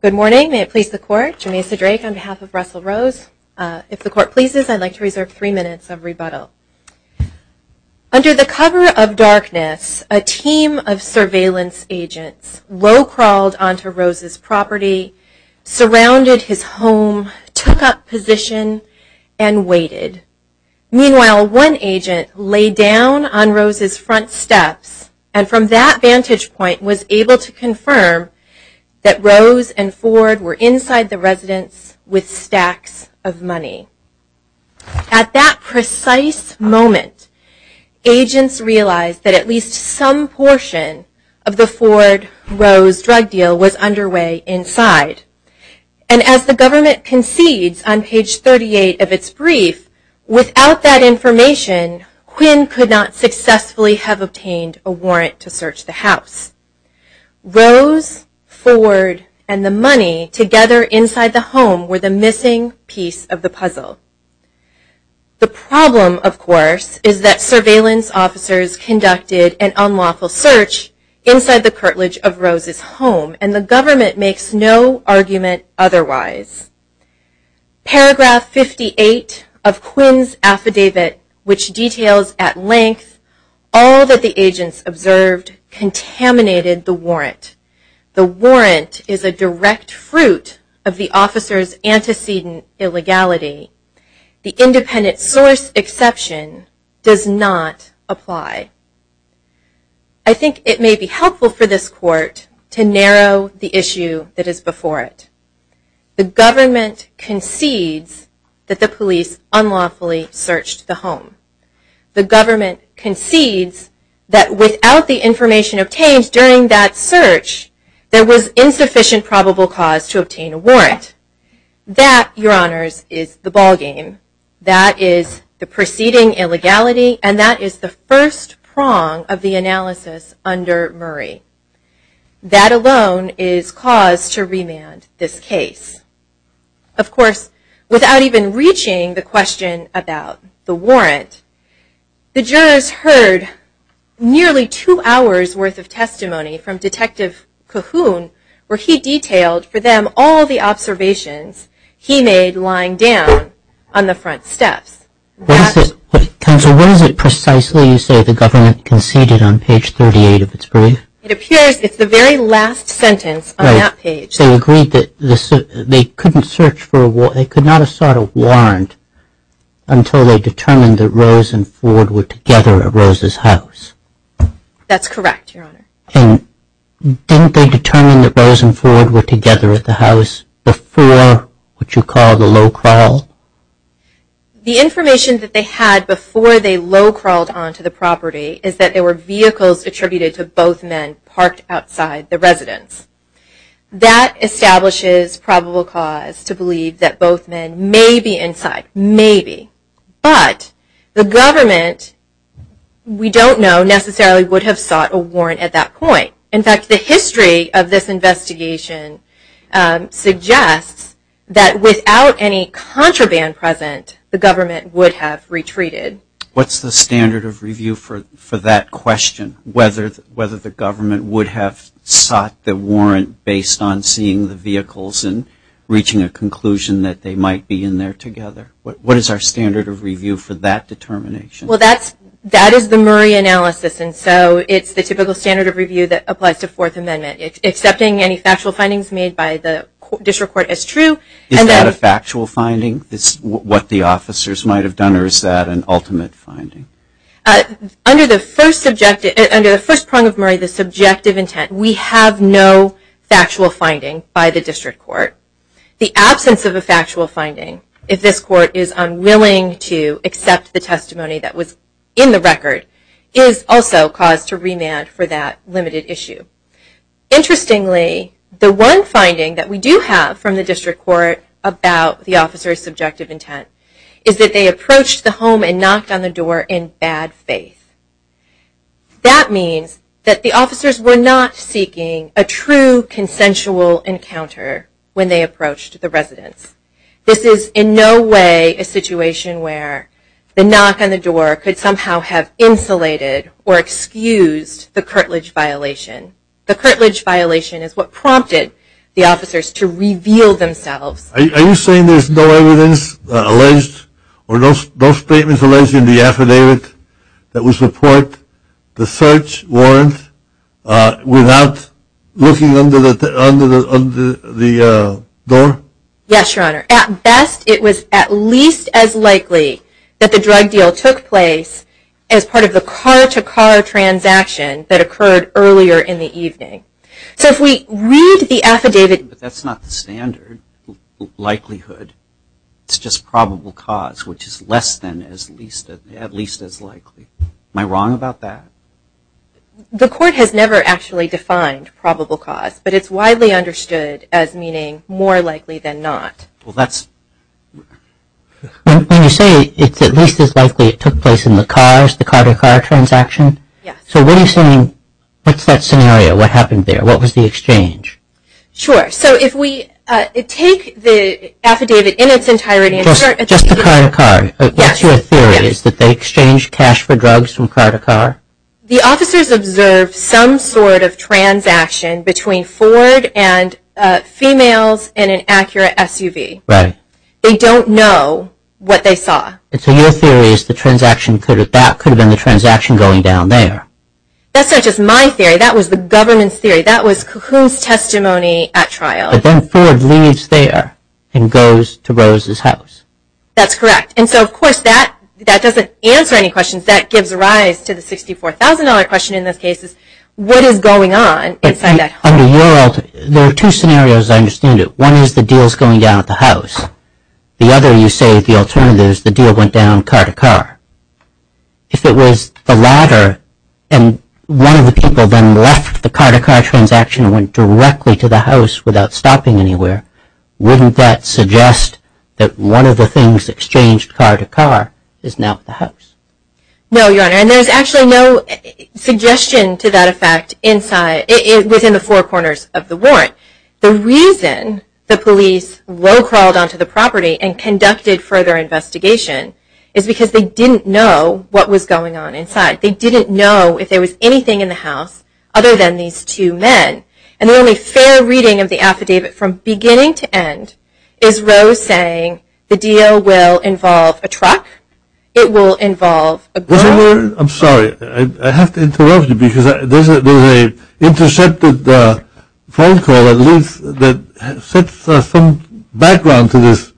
Good morning, may it please the court, Jameisa Drake on behalf of Russell Rose. If the court pleases I'd like to reserve three minutes of rebuttal. Under the cover of darkness a team of surveillance agents low crawled onto Rose's property, surrounded his home, took up position and waited. Meanwhile one agent laid down on Rose's front steps and from that confirmed that Rose and Ford were inside the residence with stacks of money. At that precise moment agents realized that at least some portion of the Ford-Rose drug deal was underway inside. And as the government concedes on page 38 of its brief, without that information Quinn could not successfully have obtained a warrant to search the house. Rose, Ford, and the money together inside the home were the missing piece of the puzzle. The problem of course is that surveillance officers conducted an unlawful search inside the curtilage of Rose's home and the government makes no argument otherwise. Paragraph 58 of Quinn's affidavit which details at length all that the agents observed contaminated the warrant. The warrant is a direct fruit of the officer's antecedent illegality. The independent source exception does not apply. I think it may be helpful for this court to narrow the issue that is The government concedes that without the information obtained during that search there was insufficient probable cause to obtain a warrant. That your honors is the ballgame. That is the preceding illegality and that is the first prong of the analysis under Murray. That alone is cause to remand this case. Of course without even reaching the question about the warrant, the jurors heard nearly two hours worth of testimony from Detective Cahoon where he detailed for them all the observations he made lying down on the front steps. Counsel, what is it precisely you say the government conceded on page 38 of its brief? It appears it's the very last sentence on that page. They agreed that they could not have sought a warrant until they determined that Rose and Ford were together at Rose's house. That's correct, your honor. And didn't they determine that Rose and Ford were together at the house before what you call the low crawl? The information that they had before they low crawled onto the property is that there were vehicles attributed to both men parked outside the residence. That establishes probable cause to believe that both men may be inside. Maybe. But the government we don't know necessarily would have sought a warrant at that point. In fact the history of this investigation suggests that without any contraband present the government would have retreated. What's the standard of review for that question? Whether the government would have sought the warrant based on seeing the vehicles and reaching a conclusion that they might be in there together? What is our standard of review for that determination? Well that is the Murray analysis and so it's the typical standard of review that applies to Fourth Amendment. It's accepting any factual findings made by the district court as true. Is that a factual finding? What the officers might have done or is that an ultimate finding? Under the first prong of Murray the subjective intent we have no factual finding by the district court. The absence of a factual finding if this court is unwilling to accept the testimony that was in the record is also cause to remand for that limited issue. Interestingly the one finding that we do have from the district court about the officer's subjective intent is that they approached the home and knocked on the door in bad faith. That means that the officers were not seeking a true consensual encounter when they approached the residents. This is in no way a situation where the knock on the door could somehow have insulated or the curtilage violation is what prompted the officers to reveal themselves. Are you saying there is no evidence alleged or no statements alleged in the affidavit that would support the search warrant without looking under the door? Yes your honor. At best it was at least as likely that the drug deal took place as part of the car to car transaction that occurred earlier in the evening. So if we read the affidavit. But that's not the standard likelihood. It's just probable cause which is less than at least as likely. Am I wrong about that? The court has never actually defined probable cause but it's widely understood as meaning more likely than not. When you say it's at least as likely it took place in the car to car transaction. What's that scenario? What happened there? What was the exchange? Sure. So if we take the affidavit in its entirety. Just the car to car. What's your theory? Is that they exchanged cash for drugs from car to car? The officers observed some sort of transaction between Ford and females in an Acura SUV. They don't know what they saw. So your theory is that could have been the transaction going down there. That's not just my theory. That was the government's theory. That was Cahoon's testimony at trial. But then Ford leaves there and goes to Rose's house. That's correct. And so of course that doesn't answer any questions. That gives rise to the $64,000 question in this case. What is going on inside that home? There are two scenarios I understand it. One is the deals going down at the house. The other you say the alternatives, the deal went down car to car. If it was the latter and one of the people then left the car to car transaction and went directly to the house without stopping anywhere, wouldn't that suggest that one of the things exchanged car to car is now at the house? No, Your Honor. And there's actually no suggestion to that effect inside, within the four corners of the warrant. The reason the police low crawled onto the property and conducted further investigation is because they didn't know what was going on inside. They didn't know if there was anything in the house other than these two men. And the only fair reading of the affidavit from beginning to end is Rose saying the deal will involve a truck. It will involve a girl. I'm sorry. I have to interrupt you because there's a intercepted phone call that leaves, that sets some background to this.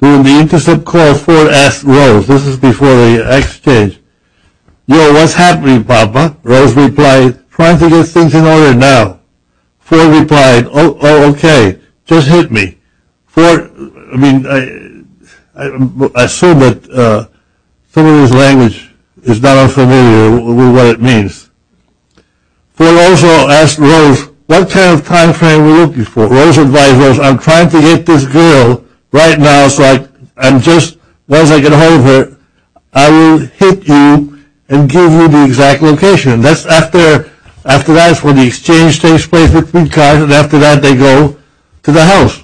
During the intercept call, Ford asked Rose, this is before the exchange, yo, what's happening, Papa? Rose replied, trying to get things in order now. Ford replied, oh, okay, just hit me. Ford, I mean, I assume that some of his language is not unfamiliar with what it means. Ford also asked Rose, what kind of time frame are you looking for? Rose advised Rose, I'm trying to get this girl right now so I'm just, once I get a hold of her, I will hit you and give you the exact location. That's after, after that's when the exchange takes place between cars and after that they go to the house.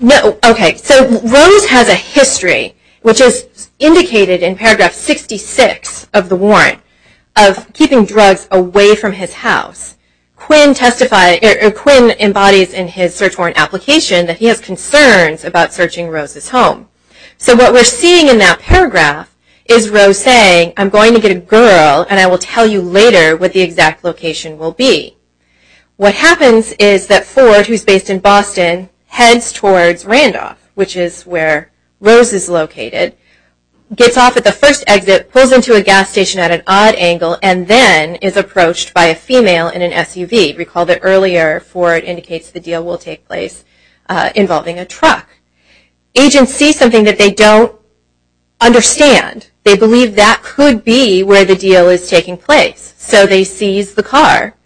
No, okay, so Rose has a history, which is indicated in paragraph 66 of the warrant, of keeping drugs away from his house. Quinn testifies, or Quinn embodies in his search warrant application that he has concerns about searching Rose's home. So what we're seeing in that paragraph is Rose saying, I'm going to get a girl and I will tell you later what the exact location will be. What happens is that Ford, who's based in Boston, heads towards Randolph, which is where Rose is located, gets off at the first exit, pulls into a gas station at an odd angle, and then is approached by a female in an SUV. Recall that earlier Ford indicates the deal will take place involving a truck. Agents see something that they don't understand. They believe that could be where the deal is taking place. So they seize the car.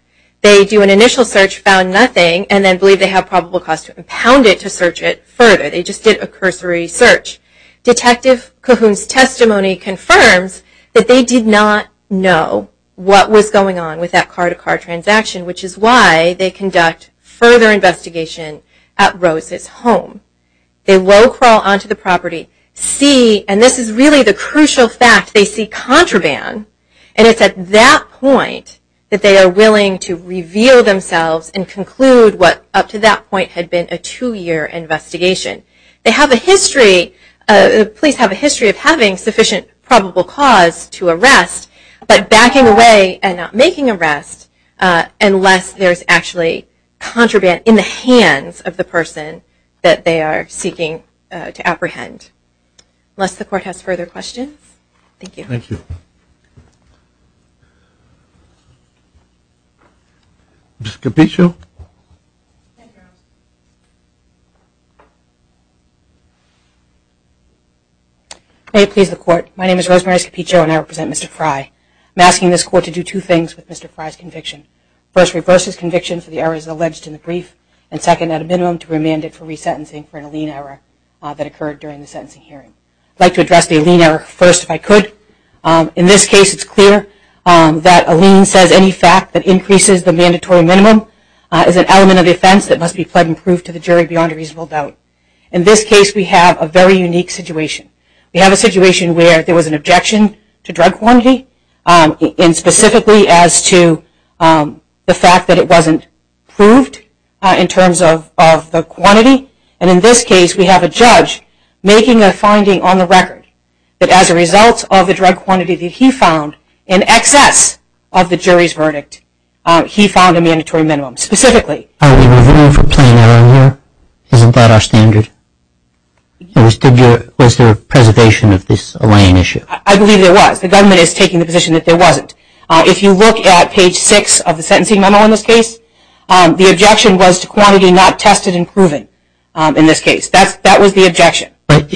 They do an initial search, found nothing, and then believe they have probable cause to impound it to search it further. They just did a cursory search. Detective Cahoon's testimony confirms that they did not know what was going on with that car-to-car transaction, which is why they conduct further investigation at Rose's home. They low-crawl onto the property, see and this is really the crucial fact, they see contraband, and it's at that point that they are willing to reveal themselves and conclude what up to that point had been a two-year investigation. They have a history, the police have a history of having sufficient probable cause to arrest, but backing away and not making arrest unless there's actually contraband in the hands of the person that they are seeking to apprehend. Unless the court has further questions? Thank you. Thank you. Ms. Capiccio? Thank you. May it please the Court, my name is Rosemary Capiccio and I represent Mr. Fry. I'm asking this Court to do two things with Mr. Fry's conviction. First, reverse his conviction for the errors alleged in the brief and second, at a minimum, to remand it for resentencing for an Allene error that occurred during the sentencing hearing. I'd like to address the Allene error first if I could. In this case, it's clear that Allene says any fact that is an element of the offense that must be pled and proved to the jury beyond a reasonable doubt. In this case, we have a very unique situation. We have a situation where there was an objection to drug quantity and specifically as to the fact that it wasn't proved in terms of the quantity. And in this case, we have a judge making a finding on the record that as a result of the drug quantity that he found in excess of the jury's verdict, he found a mandatory minimum, specifically. Are we reviewing for plain error here? Isn't that our standard? Was there preservation of this Allene issue? I believe there was. The government is taking the position that there wasn't. If you look at page 6 of the sentencing memo in this case, the objection was to quantity not tested and proven in this case. That was the objection. But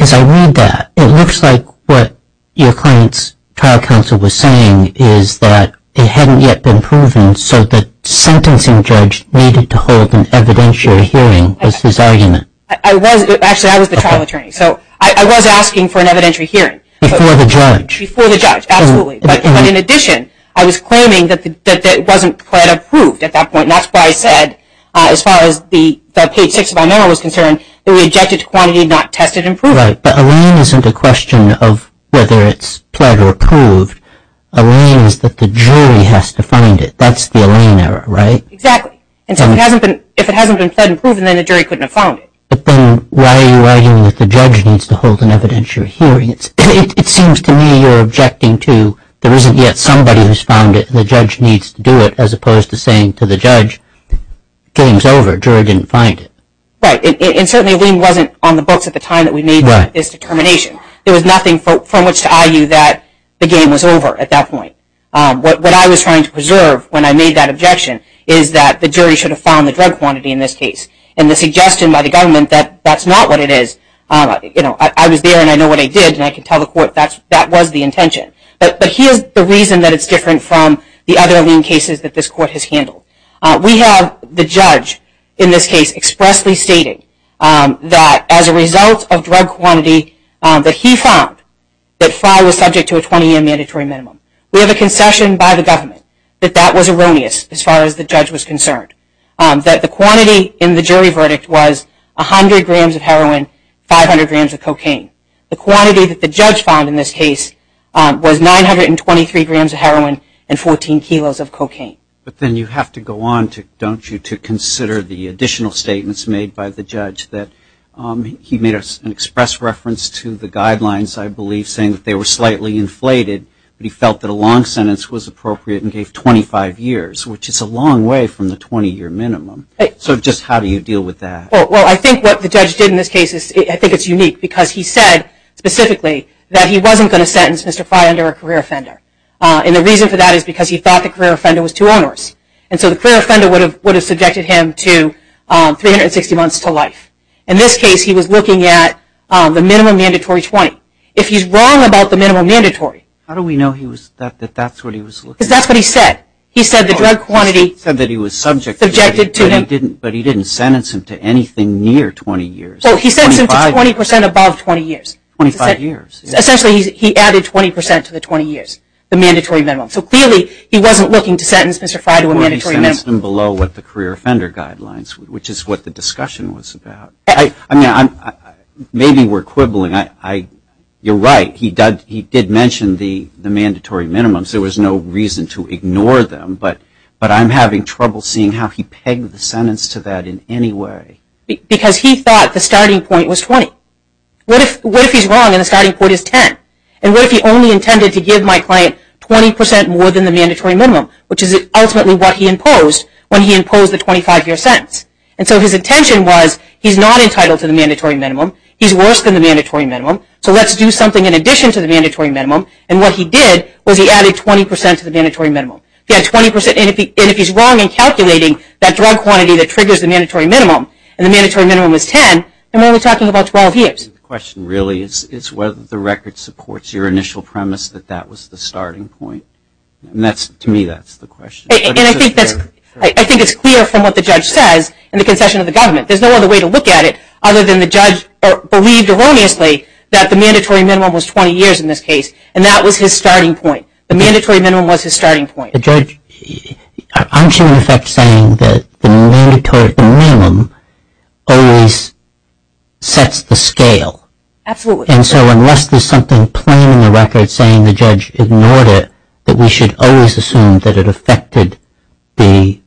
as I read that, it looks like what your client's trial counsel was saying was that it hadn't yet been proven, so the sentencing judge needed to hold an evidentiary hearing was his argument. Actually, I was the trial attorney. So I was asking for an evidentiary hearing. Before the judge. Before the judge, absolutely. But in addition, I was claiming that it wasn't pled approved at that point. And that's why I said, as far as the page 6 of my memo was concerned, that we objected to quantity not tested and proven. Right. But Allene isn't a question of whether it's pled or approved. Allene is that the jury has to find it. That's the Allene error, right? Exactly. And so if it hasn't been pled and proven, then the jury couldn't have found it. But then why are you arguing that the judge needs to hold an evidentiary hearing? It seems to me you're objecting to there isn't yet somebody who's found it, and the judge needs to do it, as opposed to saying to the judge, game's over, jury didn't find it. Right. And certainly Allene wasn't on the books at the time that we made this determination. There was nothing from which to argue that the game was over at that point. What I was trying to preserve when I made that objection is that the jury should have found the drug quantity in this case. And the suggestion by the government that that's not what it is, I was there and I know what I did, and I can tell the court that that was the intention. But here's the reason that it's different from the other Allene cases that this court has handled. We have the judge in this case expressly stating that as a result of drug quantity that he found, that Fry was subject to a 20-year mandatory minimum. We have a concession by the government that that was erroneous as far as the judge was concerned. That the quantity in the jury verdict was 100 grams of heroin, 500 grams of cocaine. The quantity that the judge found in this case was 923 grams of heroin and 14 kilos of cocaine. But then you have to go on, don't you, to consider the additional statements made by the judge that he made an express reference to the guidelines, I believe, saying that they were slightly inflated, but he felt that a long sentence was appropriate and gave 25 years, which is a long way from the 20-year minimum. So just how do you deal with that? Well, I think what the judge did in this case is, I think it's unique, because he said specifically that he wasn't going to sentence Mr. Fry under a career offender. And the reason for that is because he thought the career offender was too onerous. And so the career offender would have subjected him to 360 months to life. In this case, he was looking at the minimum mandatory 20. If he's wrong about the minimum mandatory... How do we know that's what he was looking at? Because that's what he said. He said the drug quantity... He said that he was subject to... Subjected to... But he didn't sentence him to anything near 20 years. Well, he sentenced him to 20% above 20 years. 25 years. Essentially, he added 20% to the 20 years, the mandatory minimum. So clearly, he wasn't looking to sentence Mr. Fry to a mandatory minimum. He sentenced him below what the career offender guidelines, which is what the discussion was about. I mean, maybe we're quibbling. You're right. He did mention the mandatory minimums. There was no reason to ignore them. But I'm having trouble seeing how he pegged the sentence to that in any way. Because he thought the starting point was 20. What if he's wrong and the starting point is 10? And what if he only intended to give my client 20% more than the mandatory minimum? Which is ultimately what he imposed when he imposed the 25-year sentence. And so his intention was, he's not entitled to the mandatory minimum. He's worse than the mandatory minimum. So let's do something in addition to the mandatory minimum. And what he did was he added 20% to the mandatory minimum. And if he's wrong in calculating that drug quantity that triggers the mandatory minimum, and the mandatory minimum was 10, then we're only talking about 12 years. The question really is whether the record supports your initial premise that that was the starting point. To me, that's the question. And I think it's clear from what the judge says in the concession of the government. There's no other way to look at it other than the judge believed erroneously that the mandatory minimum was 20 years in this case. And that was his starting point. The mandatory minimum was his starting point. Judge, aren't you in effect saying that the mandatory minimum always sets the scale? Absolutely. And so unless there's something plain in the record saying the judge ignored it, that we should always assume that it affected the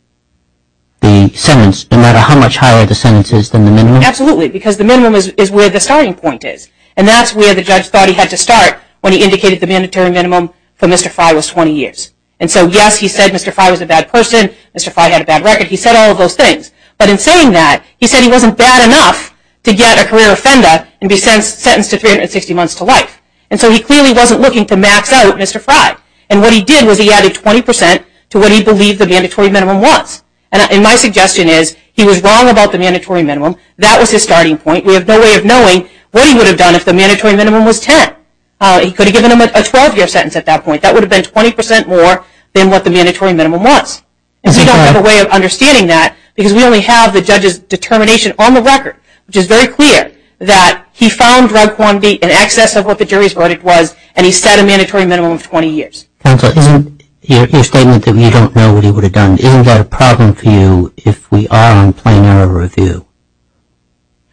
sentence, no matter how much higher the sentence is than the minimum? Absolutely, because the minimum is where the starting point is. And that's where the judge thought he had to start when he indicated the mandatory minimum for Mr. Frey was 20 years. And so yes, he said Mr. Frey was a bad person, Mr. Frey had a bad record. He said all of those things. But in saying that, he said he wasn't bad enough to get a career offender and be sentenced to 360 months to life. And so he clearly wasn't looking to max out Mr. Frey. And what he did was he added 20% to what he believed the mandatory minimum was. And my suggestion is he was wrong about the mandatory minimum. That was his starting point. We have no way of knowing what he would have done if the mandatory minimum was 10. He could have given him a 12-year sentence at that point. That would have been 20% more than what the mandatory minimum was. And so we don't have a way of understanding that because we only have the judge's determination on the record, which is very clear that he found drug quantity in excess of what the jury's verdict was and he set a mandatory minimum of 20 years. Counsel, isn't your statement that you don't know what he would have done, isn't that a problem for you if we are on plain error review?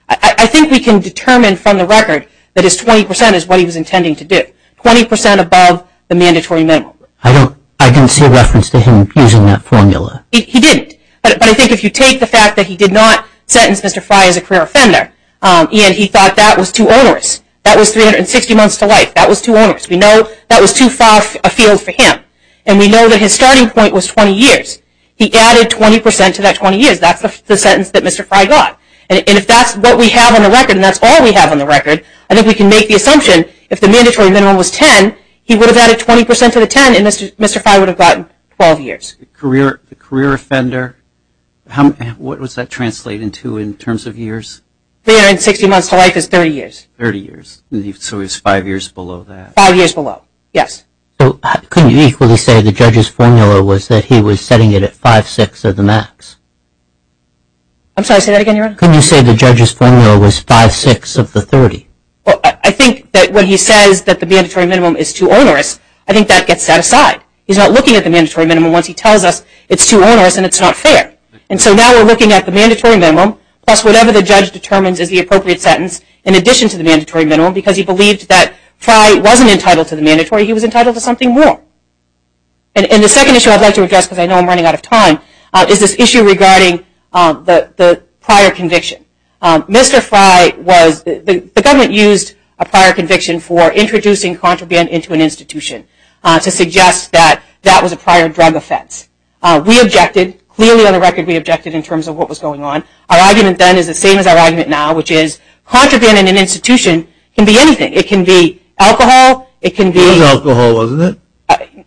I think we can determine from the record that his 20% is what he was intending to do. 20% above the mandatory minimum. I didn't see a reference to him using that formula. He didn't. But I think if you take the fact that he did not sentence Mr. Frey as a career offender and he thought that was too onerous, that was 360 months to life, that was too onerous. We know that was too far afield for him. And we know that his starting point was 20 years. He added 20% to that 20 years. That's the sentence that Mr. Frey got. And if that's what we have on the record and that's all we have on the record, I think we can make the assumption if the mandatory minimum was 10, he would have added 20% to the 10 and Mr. Frey would have gotten 12 years. A career offender, what does that translate into in terms of years? 360 months to life is 30 years. 30 years. So it's five years below that. Five years below, yes. Couldn't you equally say the judge's formula was that he was setting it at 5-6 of the max? I'm sorry, say that again, Your Honor. Couldn't you say the judge's formula was 5-6 of the 30? I think that when he says that the mandatory minimum is too onerous, I think that gets set aside. He's not looking at the mandatory minimum once he tells us it's too onerous and it's not fair. And so now we're looking at the mandatory minimum plus whatever the judge determines is the appropriate sentence in addition to the mandatory minimum because he believed that Frey wasn't entitled to the mandatory, he was entitled to something more. And the second issue I'd like to address because I know I'm running out of time is this issue regarding the prior conviction. Mr. Frey was, the government used a prior conviction for introducing contraband into an institution to suggest that that was a prior drug offense. We objected. Clearly on the record we objected in terms of what was going on. Our argument then is the same as our argument now, which is contraband in an institution can be anything. It can be alcohol. It can be. It was alcohol, wasn't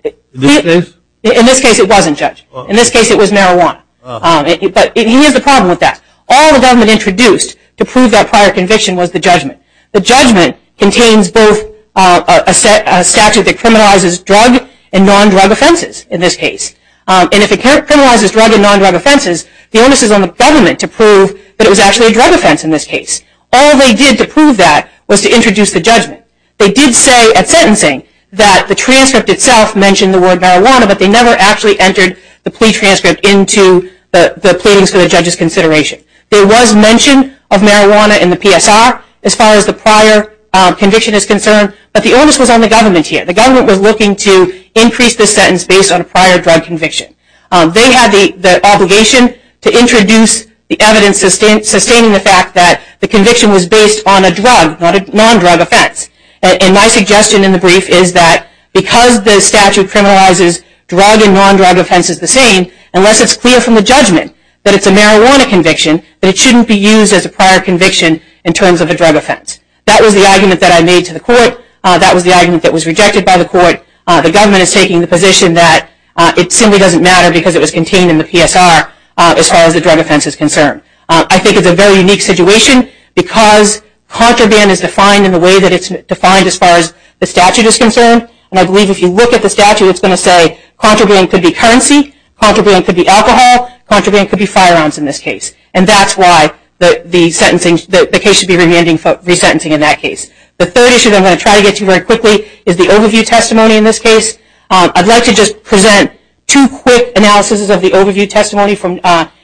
it? In this case? In this case it wasn't, Judge. In this case it was marijuana. But he has a problem with that. All the government introduced to prove that prior conviction was the judgment. The judgment contains both a statute that criminalizes drug and non-drug offenses in this case. And if it criminalizes drug and non-drug offenses, the onus is on the government to prove that it was actually a drug offense in this case. All they did to prove that was to introduce the judgment. They did say at sentencing that the transcript itself mentioned the word marijuana, but they never actually entered the plea transcript into the pleadings for the judge's consideration. There was mention of marijuana in the PSR as far as the prior conviction is concerned, but the onus was on the government here. The government was looking to increase the sentence based on a prior drug conviction. They had the obligation to introduce the evidence sustaining the fact that the conviction was based on a drug, not a non-drug offense. And my suggestion in the brief is that because the statute criminalizes drug and non-drug offenses the same, unless it's clear from the judgment that it's a marijuana conviction, that it shouldn't be used as a prior conviction in terms of a drug offense. That was the argument that I made to the court. That was the argument that was rejected by the court. The government is taking the position that it simply doesn't matter because it was contained in the PSR as far as the drug offense is concerned. I think it's a very unique situation because contraband is defined in the way that it's defined as far as the statute is concerned. And I believe if you look at the statute it's going to say contraband could be currency, contraband could be alcohol, contraband could be firearms in this case. And that's why the case should be resentencing in that case. The third issue that I'm going to try to get to very quickly is the overview testimony in this case. I'd like to just present two quick analyses of the overview testimony from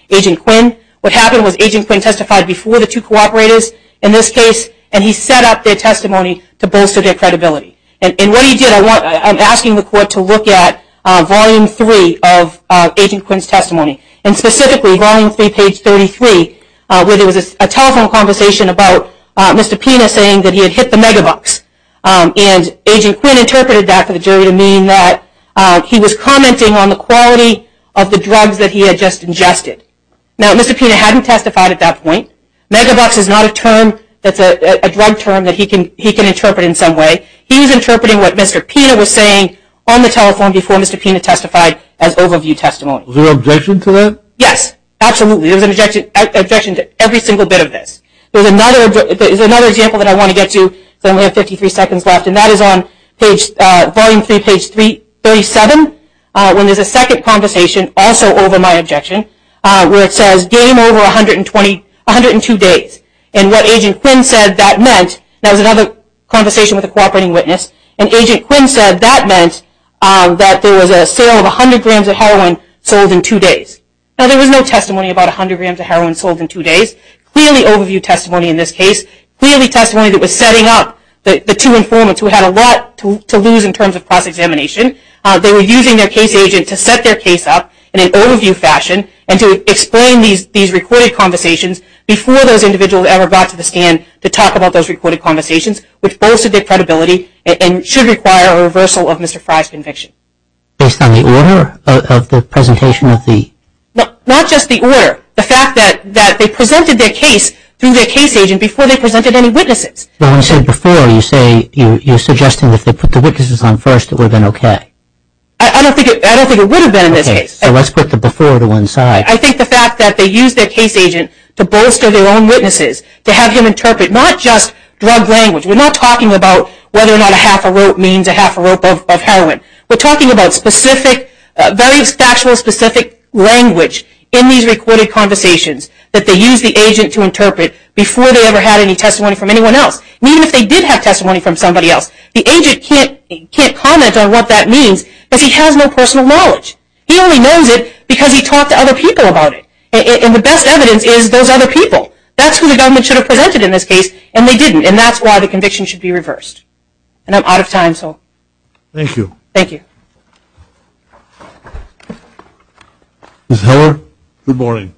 Agent Quinn. What happened was Agent Quinn testified before the two cooperators in this case and he set up their testimony to bolster their credibility. And what he did, I'm asking the court to look at Volume 3 of Agent Quinn's testimony. And specifically Volume 3, page 33, where there was a telephone conversation about Mr. Pena saying that he had hit the megabucks. And Agent Quinn interpreted that for the jury to mean that he was commenting on the quality of the drugs that he had just ingested. Now, Mr. Pena hadn't testified at that point. Megabucks is not a drug term that he can interpret in some way. He was interpreting what Mr. Pena was saying on the telephone before Mr. Pena testified as overview testimony. Was there an objection to that? Yes, absolutely. There was an objection to every single bit of this. There's another example that I want to get to because I only have 53 seconds left, and that is on Volume 3, page 37, when there's a second conversation, also over my objection, where it says game over 102 days. And what Agent Quinn said that meant, that was another conversation with a cooperating witness, and Agent Quinn said that meant that there was a sale of 100 grams of heroin sold in two days. Now, there was no testimony about 100 grams of heroin sold in two days. Clearly overview testimony in this case. Clearly testimony that was setting up the two informants who had a lot to lose in terms of cross-examination. They were using their case agent to set their case up in an overview fashion and to explain these recorded conversations before those individuals ever got to the stand to talk about those recorded conversations, which bolstered their credibility and should require a reversal of Mr. Fry's conviction. Based on the order of the presentation of the? Not just the order. The fact that they presented their case through their case agent before they presented any witnesses. But when you say before, you're suggesting that if they put the witnesses on first, it would have been okay. I don't think it would have been in this case. Okay, so let's put the before to one side. I think the fact that they used their case agent to bolster their own witnesses, to have him interpret not just drug language. We're not talking about whether or not a half a rope means a half a rope of heroin. We're talking about specific, very factual specific language in these recorded conversations that they used the agent to interpret before they ever had any testimony from anyone else. Even if they did have testimony from somebody else, the agent can't comment on what that means because he has no personal knowledge. He only knows it because he talked to other people about it. And the best evidence is those other people. That's who the government should have presented in this case, and they didn't. And that's why the conviction should be reversed. And I'm out of time, so. Thank you. Thank you. Ms. Heller, good morning.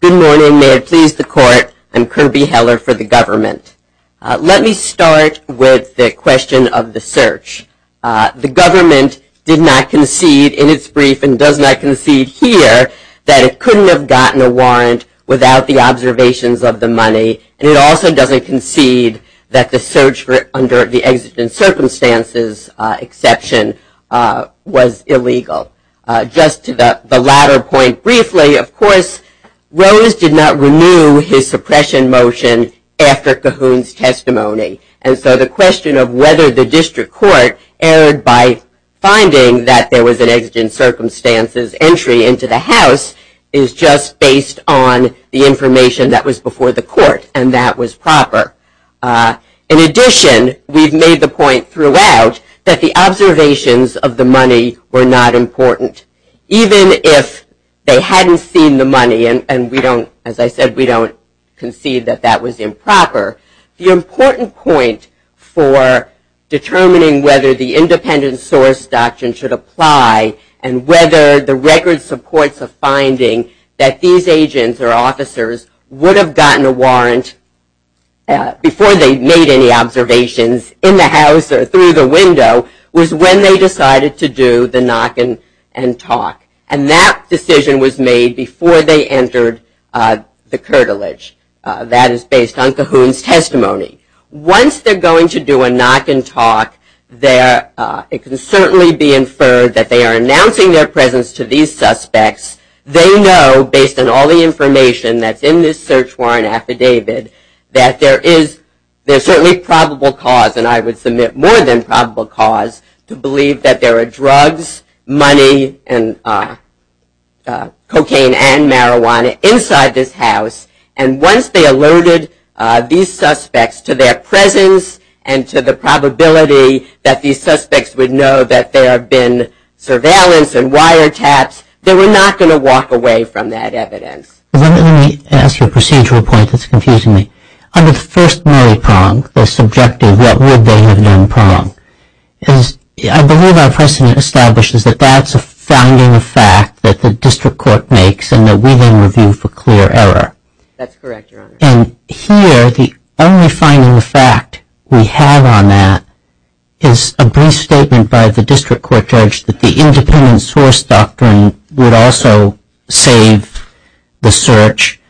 Good morning. May it please the Court, I'm Kirby Heller for the government. Let me start with the question of the search. The government did not concede in its brief and does not concede here that it couldn't have gotten a warrant without the observations of the money. And it also doesn't concede that the search under the exigent circumstances exception was illegal. Just to the latter point briefly, of course, Rose did not renew his suppression motion after Cahoon's testimony. And so the question of whether the district court, erred by finding that there was an exigent circumstances entry into the house, is just based on the information that was before the court, and that was proper. In addition, we've made the point throughout that the observations of the money were not important. Even if they hadn't seen the money, and we don't, as I said, we don't concede that that was improper, the important point for determining whether the independent source doctrine should apply and whether the record supports a finding that these agents or officers would have gotten a warrant before they made any observations in the house or through the window, was when they decided to do the knock and talk. And that decision was made before they entered the curtilage. That is based on Cahoon's testimony. Once they're going to do a knock and talk, it can certainly be inferred that they are announcing their presence to these suspects. They know, based on all the information that's in this search warrant affidavit, that there is certainly probable cause, and I would submit more than probable cause, to believe that there are drugs, money, and cocaine and marijuana inside this house. And once they alerted these suspects to their presence and to the probability that these suspects would know that there have been surveillance and wiretaps, they were not going to walk away from that evidence. Let me ask you a procedural point that's confusing me. Under the first melee prong, the subjective what would they have done prong, I believe our precedent establishes that that's a finding of fact that the district court makes and that we then review for clear error. That's correct, Your Honor. And here, the only finding of fact we have on that is a brief statement by the district court judge that the independent source doctrine would also save the search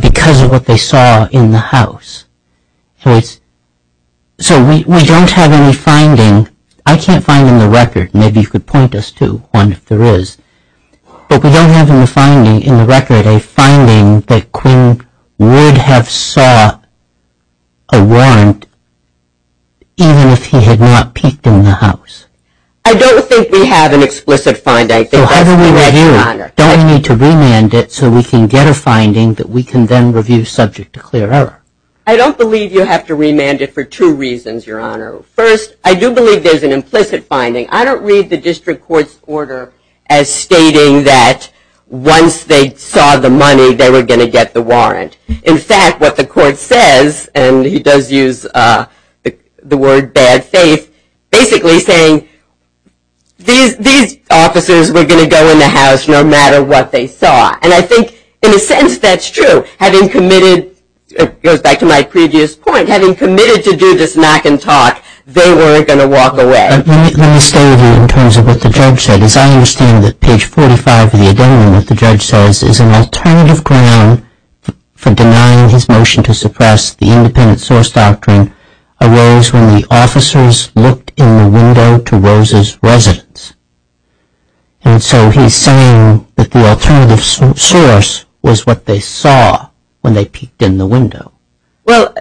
because of what they saw in the house. So we don't have any finding. I can't find in the record. Maybe you could point us to one if there is. But we don't have in the finding, in the record, a finding that Quinn would have saw a warrant even if he had not peeked in the house. I don't think we have an explicit finding. So how do we know here? Don't we need to remand it so we can get a finding that we can then review subject to clear error? I don't believe you have to remand it for two reasons, Your Honor. First, I do believe there's an implicit finding. I don't read the district court's order as stating that once they saw the money, they were going to get the warrant. In fact, what the court says, and he does use the word bad faith, basically saying these officers were going to go in the house no matter what they saw. And I think in a sense that's true. Having committed, it goes back to my previous point, having committed to do this knock and talk, they weren't going to walk away. Let me stay with you in terms of what the judge said. As I understand it, page 45 of the Addendum, what the judge says, is an alternative ground for denying his motion to suppress the independent source doctrine arose when the officers looked in the window to Rose's residence. And so he's saying that the alternative source was what they saw when they peeked in the window. Well,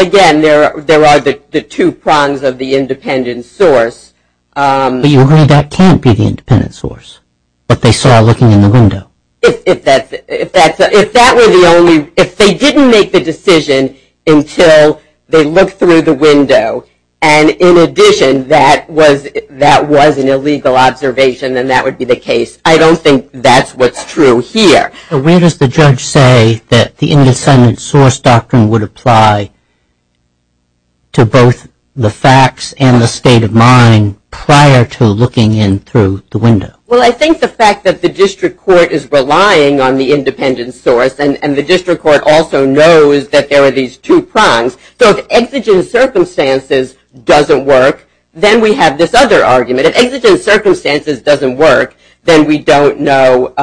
again, there are the two prongs of the independent source. But you agree that can't be the independent source, what they saw looking in the window. If that were the only, if they didn't make the decision until they looked through the window, and in addition that was an illegal observation, then that would be the case. I don't think that's what's true here. Where does the judge say that the independent source doctrine would apply to both the facts and the state of mind prior to looking in through the window? Well, I think the fact that the district court is relying on the independent source, and the district court also knows that there are these two prongs. So if exigent circumstances doesn't work, then we have this other argument. If exigent circumstances doesn't work, then we don't know,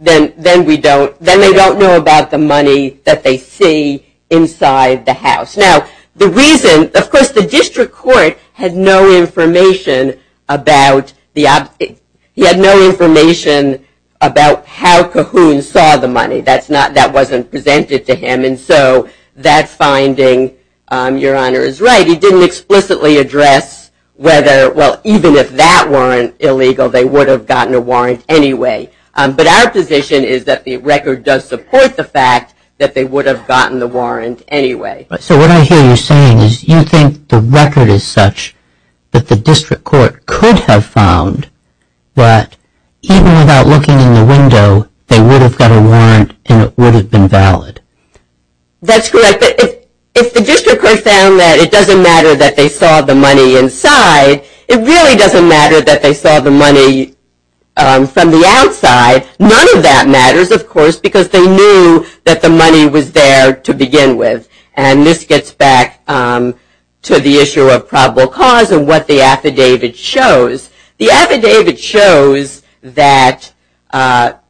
then they don't know about the money that they see inside the house. Now, the reason, of course, the district court had no information about the, he had no information about how Cahoon saw the money. That wasn't presented to him. And so that finding, Your Honor, is right. He didn't explicitly address whether, well, even if that weren't illegal, they would have gotten a warrant anyway. But our position is that the record does support the fact that they would have gotten the warrant anyway. So what I hear you saying is you think the record is such that the district court could have found that even without looking in the window, they would have got a warrant and it would have been valid. That's correct. But if the district court found that it doesn't matter that they saw the money inside, it really doesn't matter that they saw the money from the outside. None of that matters, of course, because they knew that the money was there to begin with. And this gets back to the issue of probable cause and what the affidavit shows. The affidavit shows that, of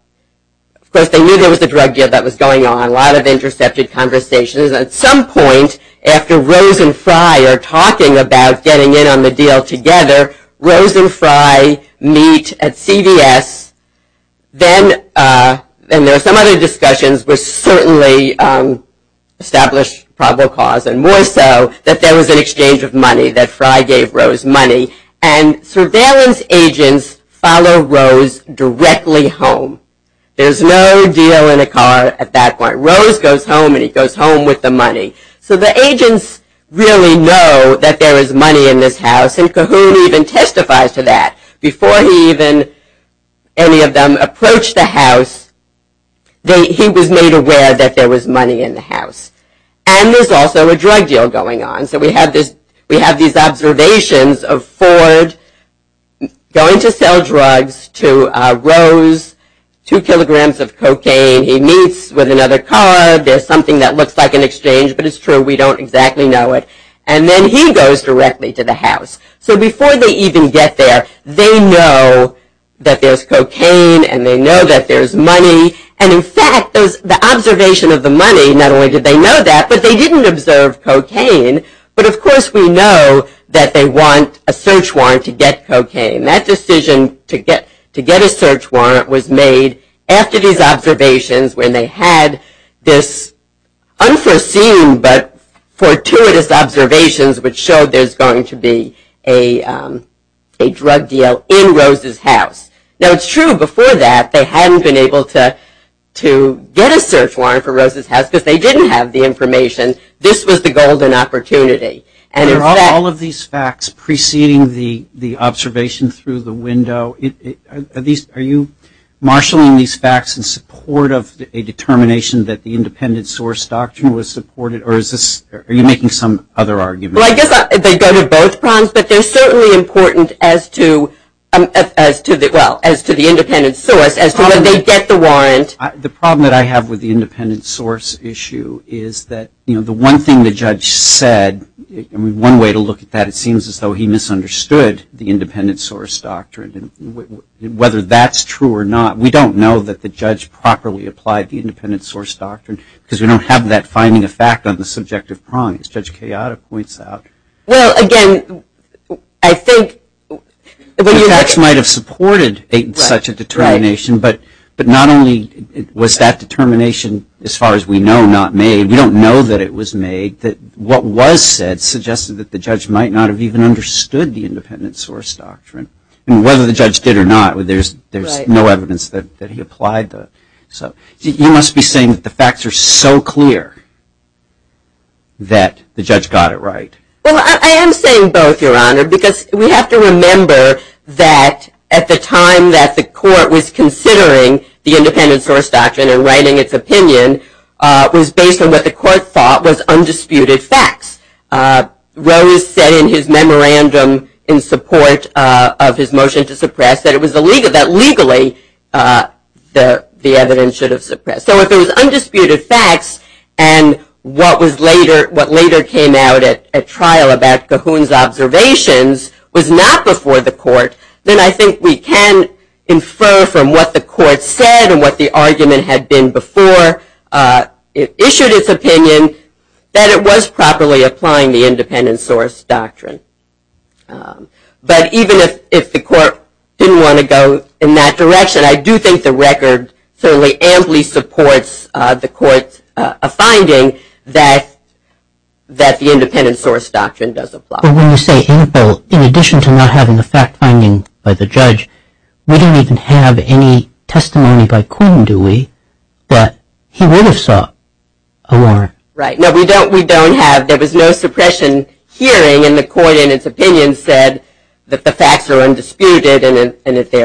course, they knew there was a drug deal that was going on, a lot of intercepted conversations. At some point after Rose and Fry are talking about getting in on the deal together, Rose and Fry meet at CVS. Then there are some other discussions which certainly establish probable cause and more so that there was an exchange of money, that Fry gave Rose money. And surveillance agents follow Rose directly home. There's no deal in the car at that point. Rose goes home and he goes home with the money. So the agents really know that there is money in this house, and Cahoon even testifies to that. Before he even, any of them, approached the house, he was made aware that there was money in the house. And there's also a drug deal going on. So we have these observations of Ford going to sell drugs to Rose, two kilograms of cocaine. He meets with another car. There's something that looks like an exchange, but it's true. We don't exactly know it. And then he goes directly to the house. So before they even get there, they know that there's cocaine and they know that there's money. And in fact, the observation of the money, not only did they know that, but they didn't observe cocaine. But of course we know that they want a search warrant to get cocaine. That decision to get a search warrant was made after these observations when they had this unforeseen but fortuitous observations which showed there's going to be a drug deal in Rose's house. Now it's true, before that, they hadn't been able to get a search warrant for Rose's house because they didn't have the information. This was the golden opportunity. And in fact- Are all of these facts preceding the observation through the window? Are you marshaling these facts in support of a determination that the independent source doctrine was supported? Or are you making some other argument? Well, I guess they go to both prongs. But they're certainly important as to the independent source, as to when they get the warrant. The problem that I have with the independent source issue is that the one thing the judge said, one way to look at that, it seems as though he misunderstood the independent source doctrine. Whether that's true or not, we don't know that the judge properly applied the independent source doctrine because we don't have that finding of fact on the subjective prong, as Judge Kayada points out. Well, again, I think- The facts might have supported such a determination, but not only was that determination, as far as we know, not made. We don't know that it was made. What was said suggested that the judge might not have even understood the independent source doctrine. And whether the judge did or not, there's no evidence that he applied the- You must be saying that the facts are so clear that the judge got it right. Well, I am saying both, Your Honor, because we have to remember that at the time that the court was considering the independent source doctrine and writing its opinion was based on what the court thought was undisputed facts. Rose said in his memorandum in support of his motion to suppress that legally the evidence should have suppressed. So if it was undisputed facts and what later came out at trial about Cahoon's observations was not before the court, then I think we can infer from what the court said and what the argument had been before it issued its opinion that it was properly applying the independent source doctrine. But even if the court didn't want to go in that direction, I do think the record certainly amply supports the court's finding that the independent source doctrine does apply. But when you say ample, in addition to not having a fact finding by the judge, we don't even have any testimony by Cahoon, do we, that he would have sought a warrant. Right. No, we don't. We don't have. There was no suppression hearing, and the court in its opinion said that the facts are undisputed. And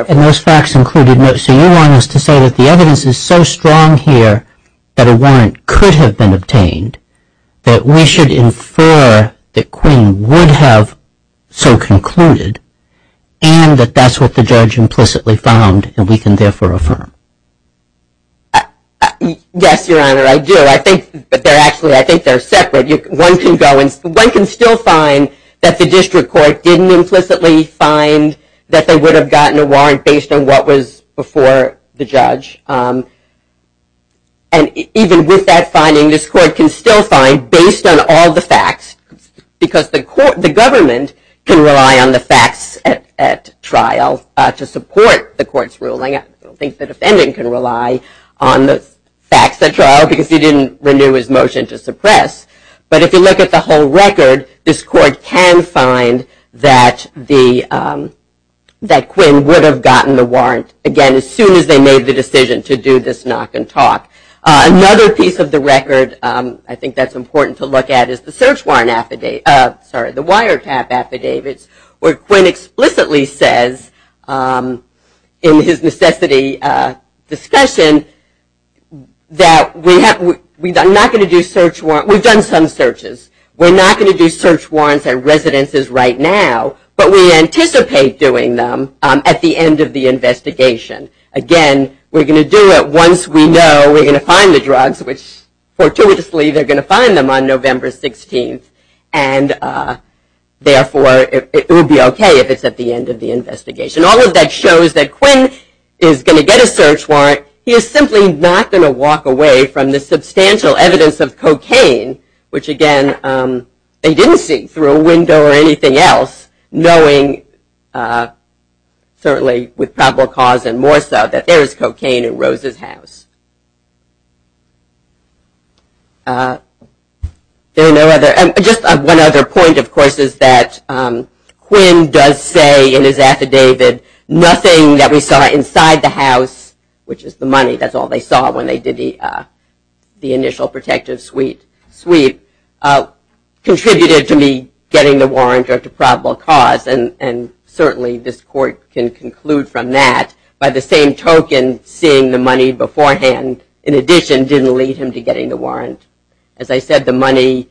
those facts included notes. So you want us to say that the evidence is so strong here that a warrant could have been obtained that we should infer that Queen would have so concluded and that that's what the judge implicitly found and we can therefore affirm. Yes, Your Honor, I do. I think they're separate. One can still find that the district court didn't implicitly find that they would have gotten a warrant based on what was before the judge. And even with that finding, this court can still find, based on all the facts, because the government can rely on the facts at trial to support the court's ruling. I don't think the defendant can rely on the facts at trial because he didn't renew his motion to suppress. But if you look at the whole record, this court can find that Quinn would have gotten the warrant, again, as soon as they made the decision to do this knock and talk. Another piece of the record I think that's important to look at is the search warrant affidavit, sorry, the wiretap affidavit, where Quinn explicitly says in his necessity discussion that we're not going to do search warrants. We've done some searches. We're not going to do search warrants at residences right now, but we anticipate doing them at the end of the investigation. Again, we're going to do it once we know we're going to find the drugs, which fortuitously they're going to find them on November 16th, and therefore it will be okay if it's at the end of the investigation. All of that shows that Quinn is going to get a search warrant. He is simply not going to walk away from the substantial evidence of cocaine, which, again, they didn't see through a window or anything else, knowing certainly with probable cause and more so that there is cocaine in Rose's house. Just one other point, of course, is that Quinn does say in his affidavit nothing that we saw inside the house, which is the money, that's all they saw when they did the initial protective sweep, contributed to me getting the warrant or to probable cause, and certainly this court can conclude from that. By the same token, seeing the money beforehand, in addition, didn't lead him to getting the warrant. As I said, the money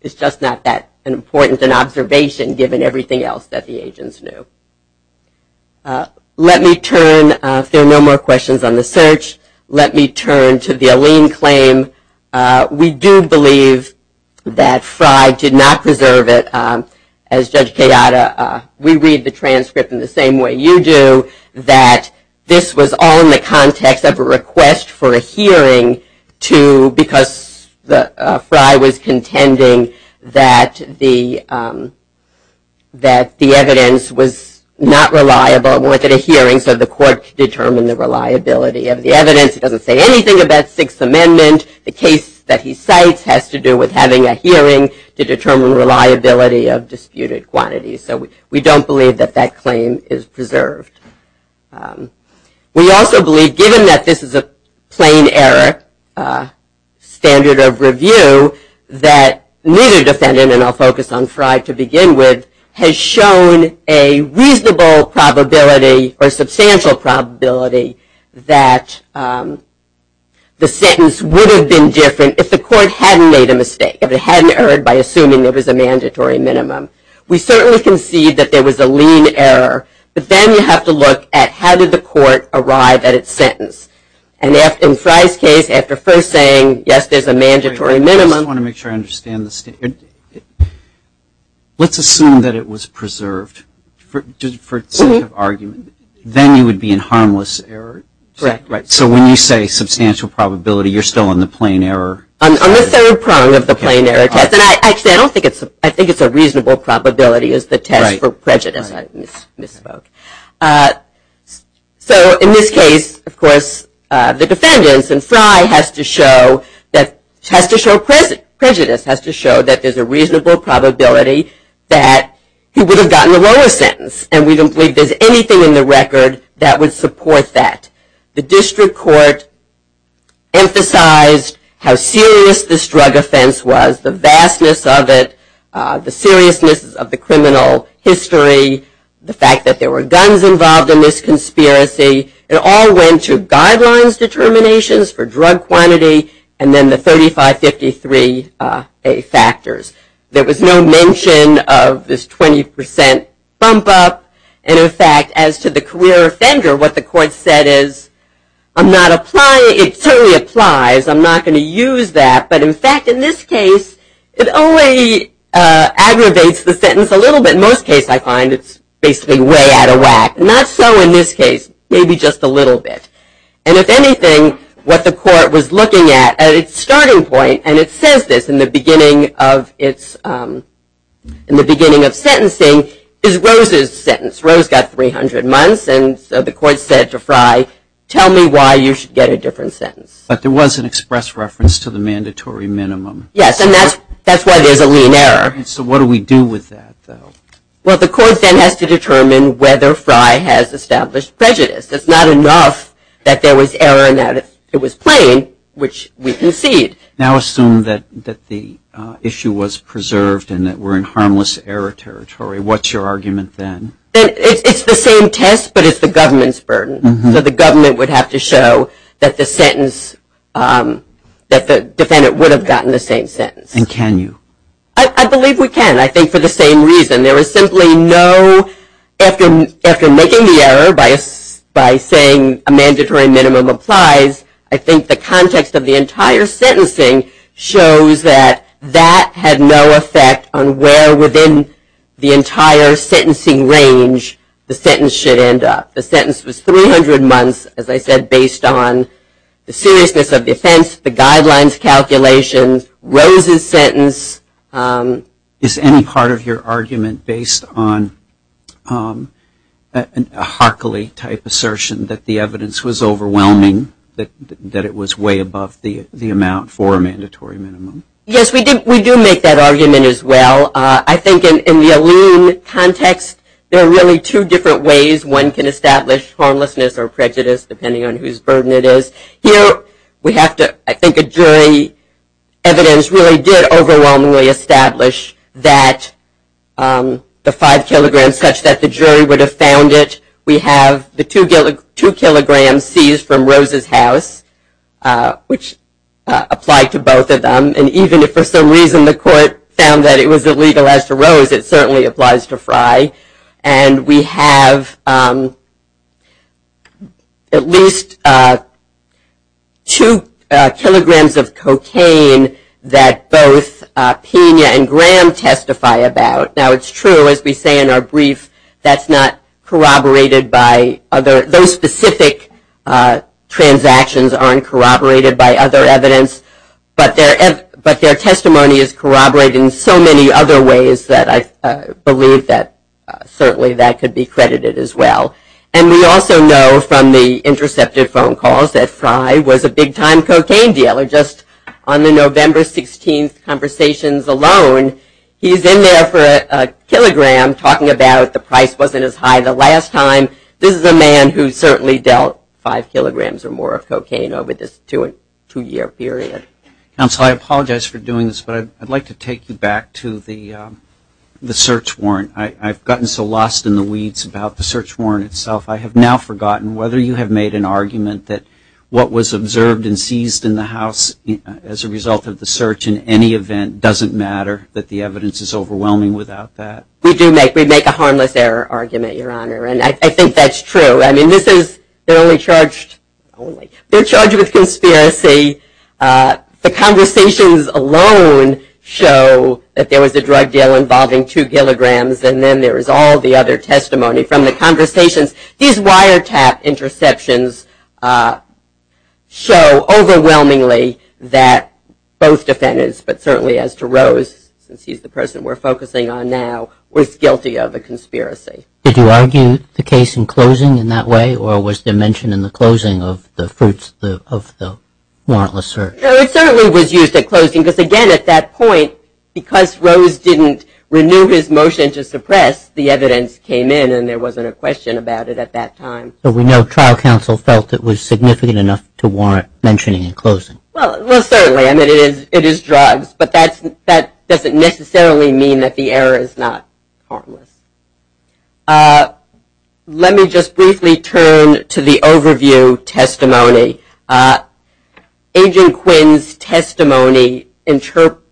is just not that important an observation given everything else that the agents knew. Let me turn, if there are no more questions on the search, let me turn to the Allene claim. We do believe that Fry did not preserve it. As Judge Kayada, we read the transcript in the same way you do, that this was all in the context of a request for a hearing because Fry was contending that the evidence was not reliable and wanted a hearing so the court could determine the reliability of the evidence. He doesn't say anything about Sixth Amendment. The case that he cites has to do with having a hearing to determine reliability of disputed quantities, so we don't believe that that claim is preserved. We also believe, given that this is a plain error standard of review, that neither defendant, and I'll focus on Fry to begin with, has shown a reasonable probability or substantial probability that the sentence would have been different if the court hadn't made a mistake, if it hadn't erred by assuming there was a mandatory minimum. We certainly concede that there was a lean error, but then you have to look at how did the court arrive at its sentence. And in Fry's case, after first saying, yes, there's a mandatory minimum. I just want to make sure I understand this. Let's assume that it was preserved for the sake of argument. Then you would be in harmless error? Correct. So when you say substantial probability, you're still on the plain error? I'm on the third prong of the plain error test. I think it's a reasonable probability is the test for prejudice. I misspoke. So in this case, of course, the defendants, and Fry has to show prejudice, has to show that there's a reasonable probability that he would have gotten a lower sentence. And we don't believe there's anything in the record that would support that. The district court emphasized how serious this drug offense was, the vastness of it, the seriousness of the criminal history, the fact that there were guns involved in this conspiracy. It all went to guidelines determinations for drug quantity and then the 3553A factors. There was no mention of this 20% bump up. And, in fact, as to the career offender, what the court said is, I'm not applying it. It certainly applies. I'm not going to use that. But, in fact, in this case, it only aggravates the sentence a little bit. In most cases, I find it's basically way out of whack. Not so in this case, maybe just a little bit. And, if anything, what the court was looking at at its starting point, and it says this in the beginning of sentencing, is Rose's sentence. Rose got 300 months, and so the court said to Fry, tell me why you should get a different sentence. But there was an express reference to the mandatory minimum. Yes, and that's why there's a lean error. So what do we do with that, though? Well, the court then has to determine whether Fry has established prejudice. It's not enough that there was error and that it was plain, which we concede. Now assume that the issue was preserved and that we're in harmless error territory. What's your argument then? It's the same test, but it's the government's burden. So the government would have to show that the sentence, that the defendant would have gotten the same sentence. And can you? I believe we can, I think for the same reason. There was simply no, after making the error by saying a mandatory minimum applies, I think the context of the entire sentencing shows that that had no effect on where within the entire sentencing range the sentence should end up. The sentence was 300 months, as I said, based on the seriousness of the offense, the guidelines calculations, Rose's sentence. Is any part of your argument based on a Harkley-type assertion that the evidence was overwhelming, that it was way above the amount for a mandatory minimum? Yes, we do make that argument as well. I think in the Alleen context, there are really two different ways one can establish harmlessness or prejudice, depending on whose burden it is. Here, we have to, I think a jury evidence really did overwhelmingly establish that the five kilograms, such that the jury would have found it. We have the two kilograms seized from Rose's house, which applied to both of them. Even if for some reason the court found that it was illegal as to Rose, it certainly applies to Frye. We have at least two kilograms of cocaine that both Pena and Graham testify about. Now, it's true, as we say in our brief, that's not corroborated by other, those specific transactions aren't corroborated by other evidence. But their testimony is corroborated in so many other ways that I believe that certainly that could be credited as well. And we also know from the intercepted phone calls that Frye was a big-time cocaine dealer. Just on the November 16th conversations alone, he's in there for a kilogram, talking about the price wasn't as high the last time. This is a man who certainly dealt five kilograms or more of cocaine over this two-year period. Counsel, I apologize for doing this, but I'd like to take you back to the search warrant. I've gotten so lost in the weeds about the search warrant itself, I have now forgotten whether you have made an argument that what was observed and seized in the house as a result of the search in any event doesn't matter, that the evidence is overwhelming without that. We do make a harmless error argument, Your Honor. And I think that's true. I mean, this is, they're only charged, only, they're charged with conspiracy. The conversations alone show that there was a drug deal involving two kilograms, and then there is all the other testimony from the conversations. These wiretap interceptions show overwhelmingly that both defendants, but certainly as to Rose, since he's the person we're focusing on now, was guilty of a conspiracy. Did you argue the case in closing in that way, or was there mention in the closing of the fruits of the warrantless search? No, it certainly was used at closing because, again, at that point, because Rose didn't renew his motion to suppress, the evidence came in and there wasn't a question about it at that time. But we know trial counsel felt it was significant enough to warrant mentioning in closing. Well, certainly. I mean, it is drugs, but that doesn't necessarily mean that the error is not harmless. Let me just briefly turn to the overview testimony. Agent Quinn's testimony,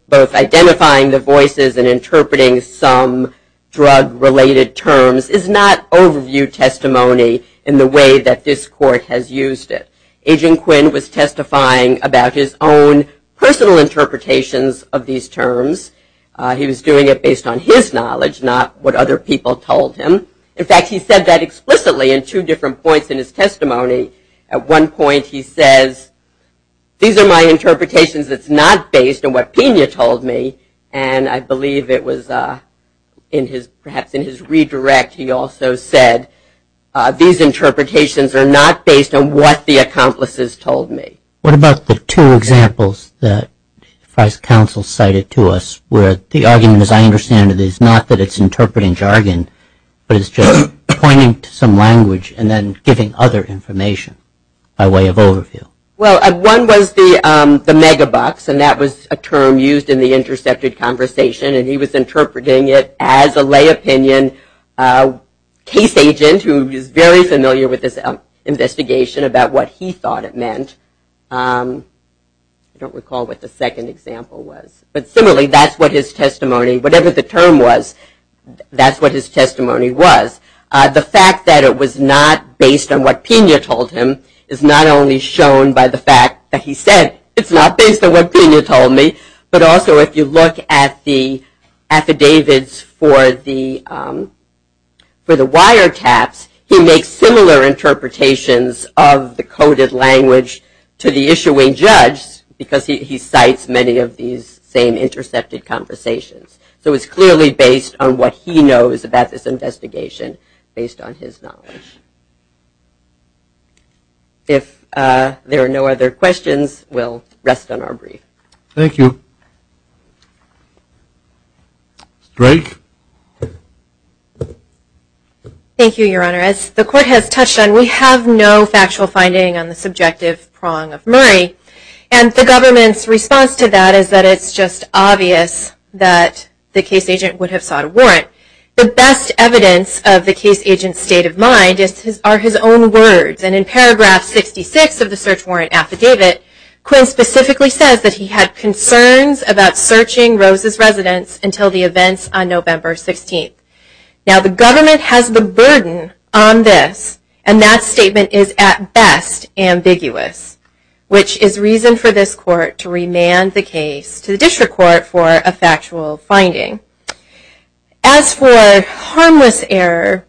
both identifying the voices and interpreting some drug-related terms, is not overview testimony in the way that this court has used it. Agent Quinn was testifying about his own personal interpretations of these terms. He was doing it based on his knowledge, not what other people told him. In fact, he said that explicitly in two different points in his testimony. At one point he says, these are my interpretations that's not based on what Pena told me, and I believe it was perhaps in his redirect he also said, these interpretations are not based on what the accomplices told me. What about the two examples that the trial counsel cited to us, where the argument, as I understand it, is not that it's interpreting jargon, but it's just pointing to some language and then giving other information by way of overview? Well, one was the megabucks, and that was a term used in the intercepted conversation, and he was interpreting it as a lay opinion case agent who is very familiar with this investigation about what he thought it meant. I don't recall what the second example was, but similarly, that's what his testimony, whatever the term was, that's what his testimony was. The fact that it was not based on what Pena told him is not only shown by the fact that he said, it's not based on what Pena told me, but also if you look at the affidavits for the wiretaps, he makes similar interpretations of the coded language to the issuing judge because he cites many of these same intercepted conversations. So it's clearly based on what he knows about this investigation based on his knowledge. If there are no other questions, we'll rest on our brief. Thank you. Drake? Thank you, Your Honor. As the court has touched on, we have no factual finding on the subjective prong of Murray, and the government's response to that is that it's just obvious that the case agent would have sought a warrant. The best evidence of the case agent's state of mind are his own words, and in paragraph 66 of the search warrant affidavit, Quinn specifically says that he had concerns about searching Rose's residence until the events on November 16th. Now the government has the burden on this, and that statement is at best ambiguous, which is reason for this court to remand the case to the district court for a factual finding. As for harmless error,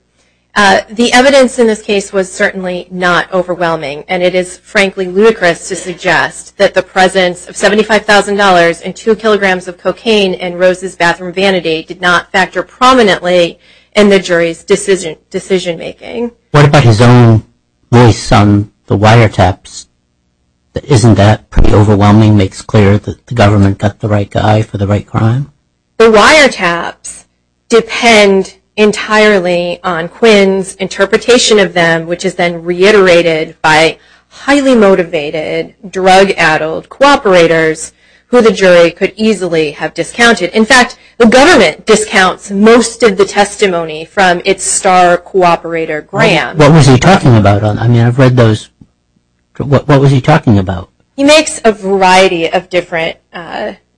the evidence in this case was certainly not overwhelming, and it is frankly ludicrous to suggest that the presence of $75,000 and two kilograms of cocaine in Rose's bathroom vanity did not factor prominently in the jury's decision-making. What about his own voice on the wiretaps? Isn't that pretty overwhelming, makes clear that the government got the right guy for the right crime? The wiretaps depend entirely on Quinn's interpretation of them, which is then reiterated by highly motivated drug-addled cooperators, who the jury could easily have discounted. In fact, the government discounts most of the testimony from its star cooperator, Graham. What was he talking about? I mean, I've read those... What was he talking about? He makes a variety of different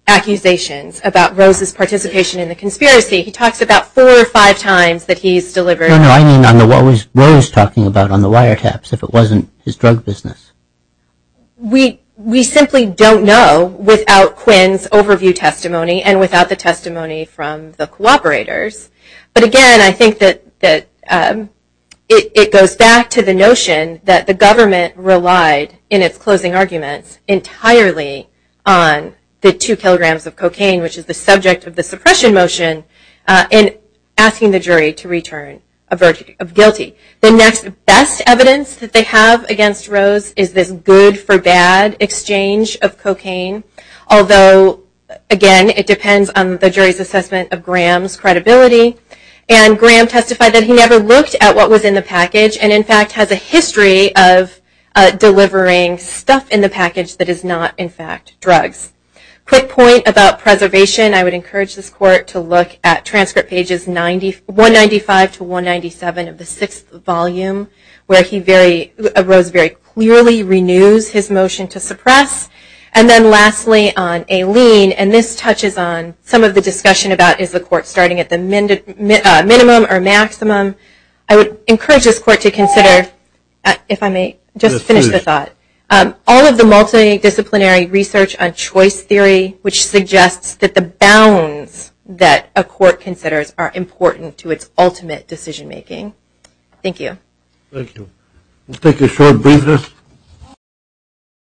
accusations about Rose's participation in the conspiracy. He talks about four or five times that he's delivered... No, no, I mean what was Rose talking about on the wiretaps, if it wasn't his drug business? We simply don't know without Quinn's overview testimony, and without the testimony from the cooperators. But again, I think that it goes back to the notion that the government relied, in its closing arguments, entirely on the two kilograms of cocaine, which is the subject of the suppression motion, in asking the jury to return a verdict of guilty. The next best evidence that they have against Rose is this good-for-bad exchange of cocaine. Although, again, it depends on the jury's assessment of Graham's credibility. And Graham testified that he never looked at what was in the package, and in fact has a history of delivering stuff in the package that is not, in fact, drugs. Quick point about preservation. I would encourage this court to look at transcript pages 195-197 of the sixth volume, where Rose very clearly renews his motion to suppress. And then lastly, on Aileen, and this touches on some of the discussion about, is the court starting at the minimum or maximum? I would encourage this court to consider, if I may just finish the thought, all of the multidisciplinary research on choice theory, which suggests that the bounds that a court considers are important to its ultimate decision-making. Thank you. Thank you. We'll take a short briefness.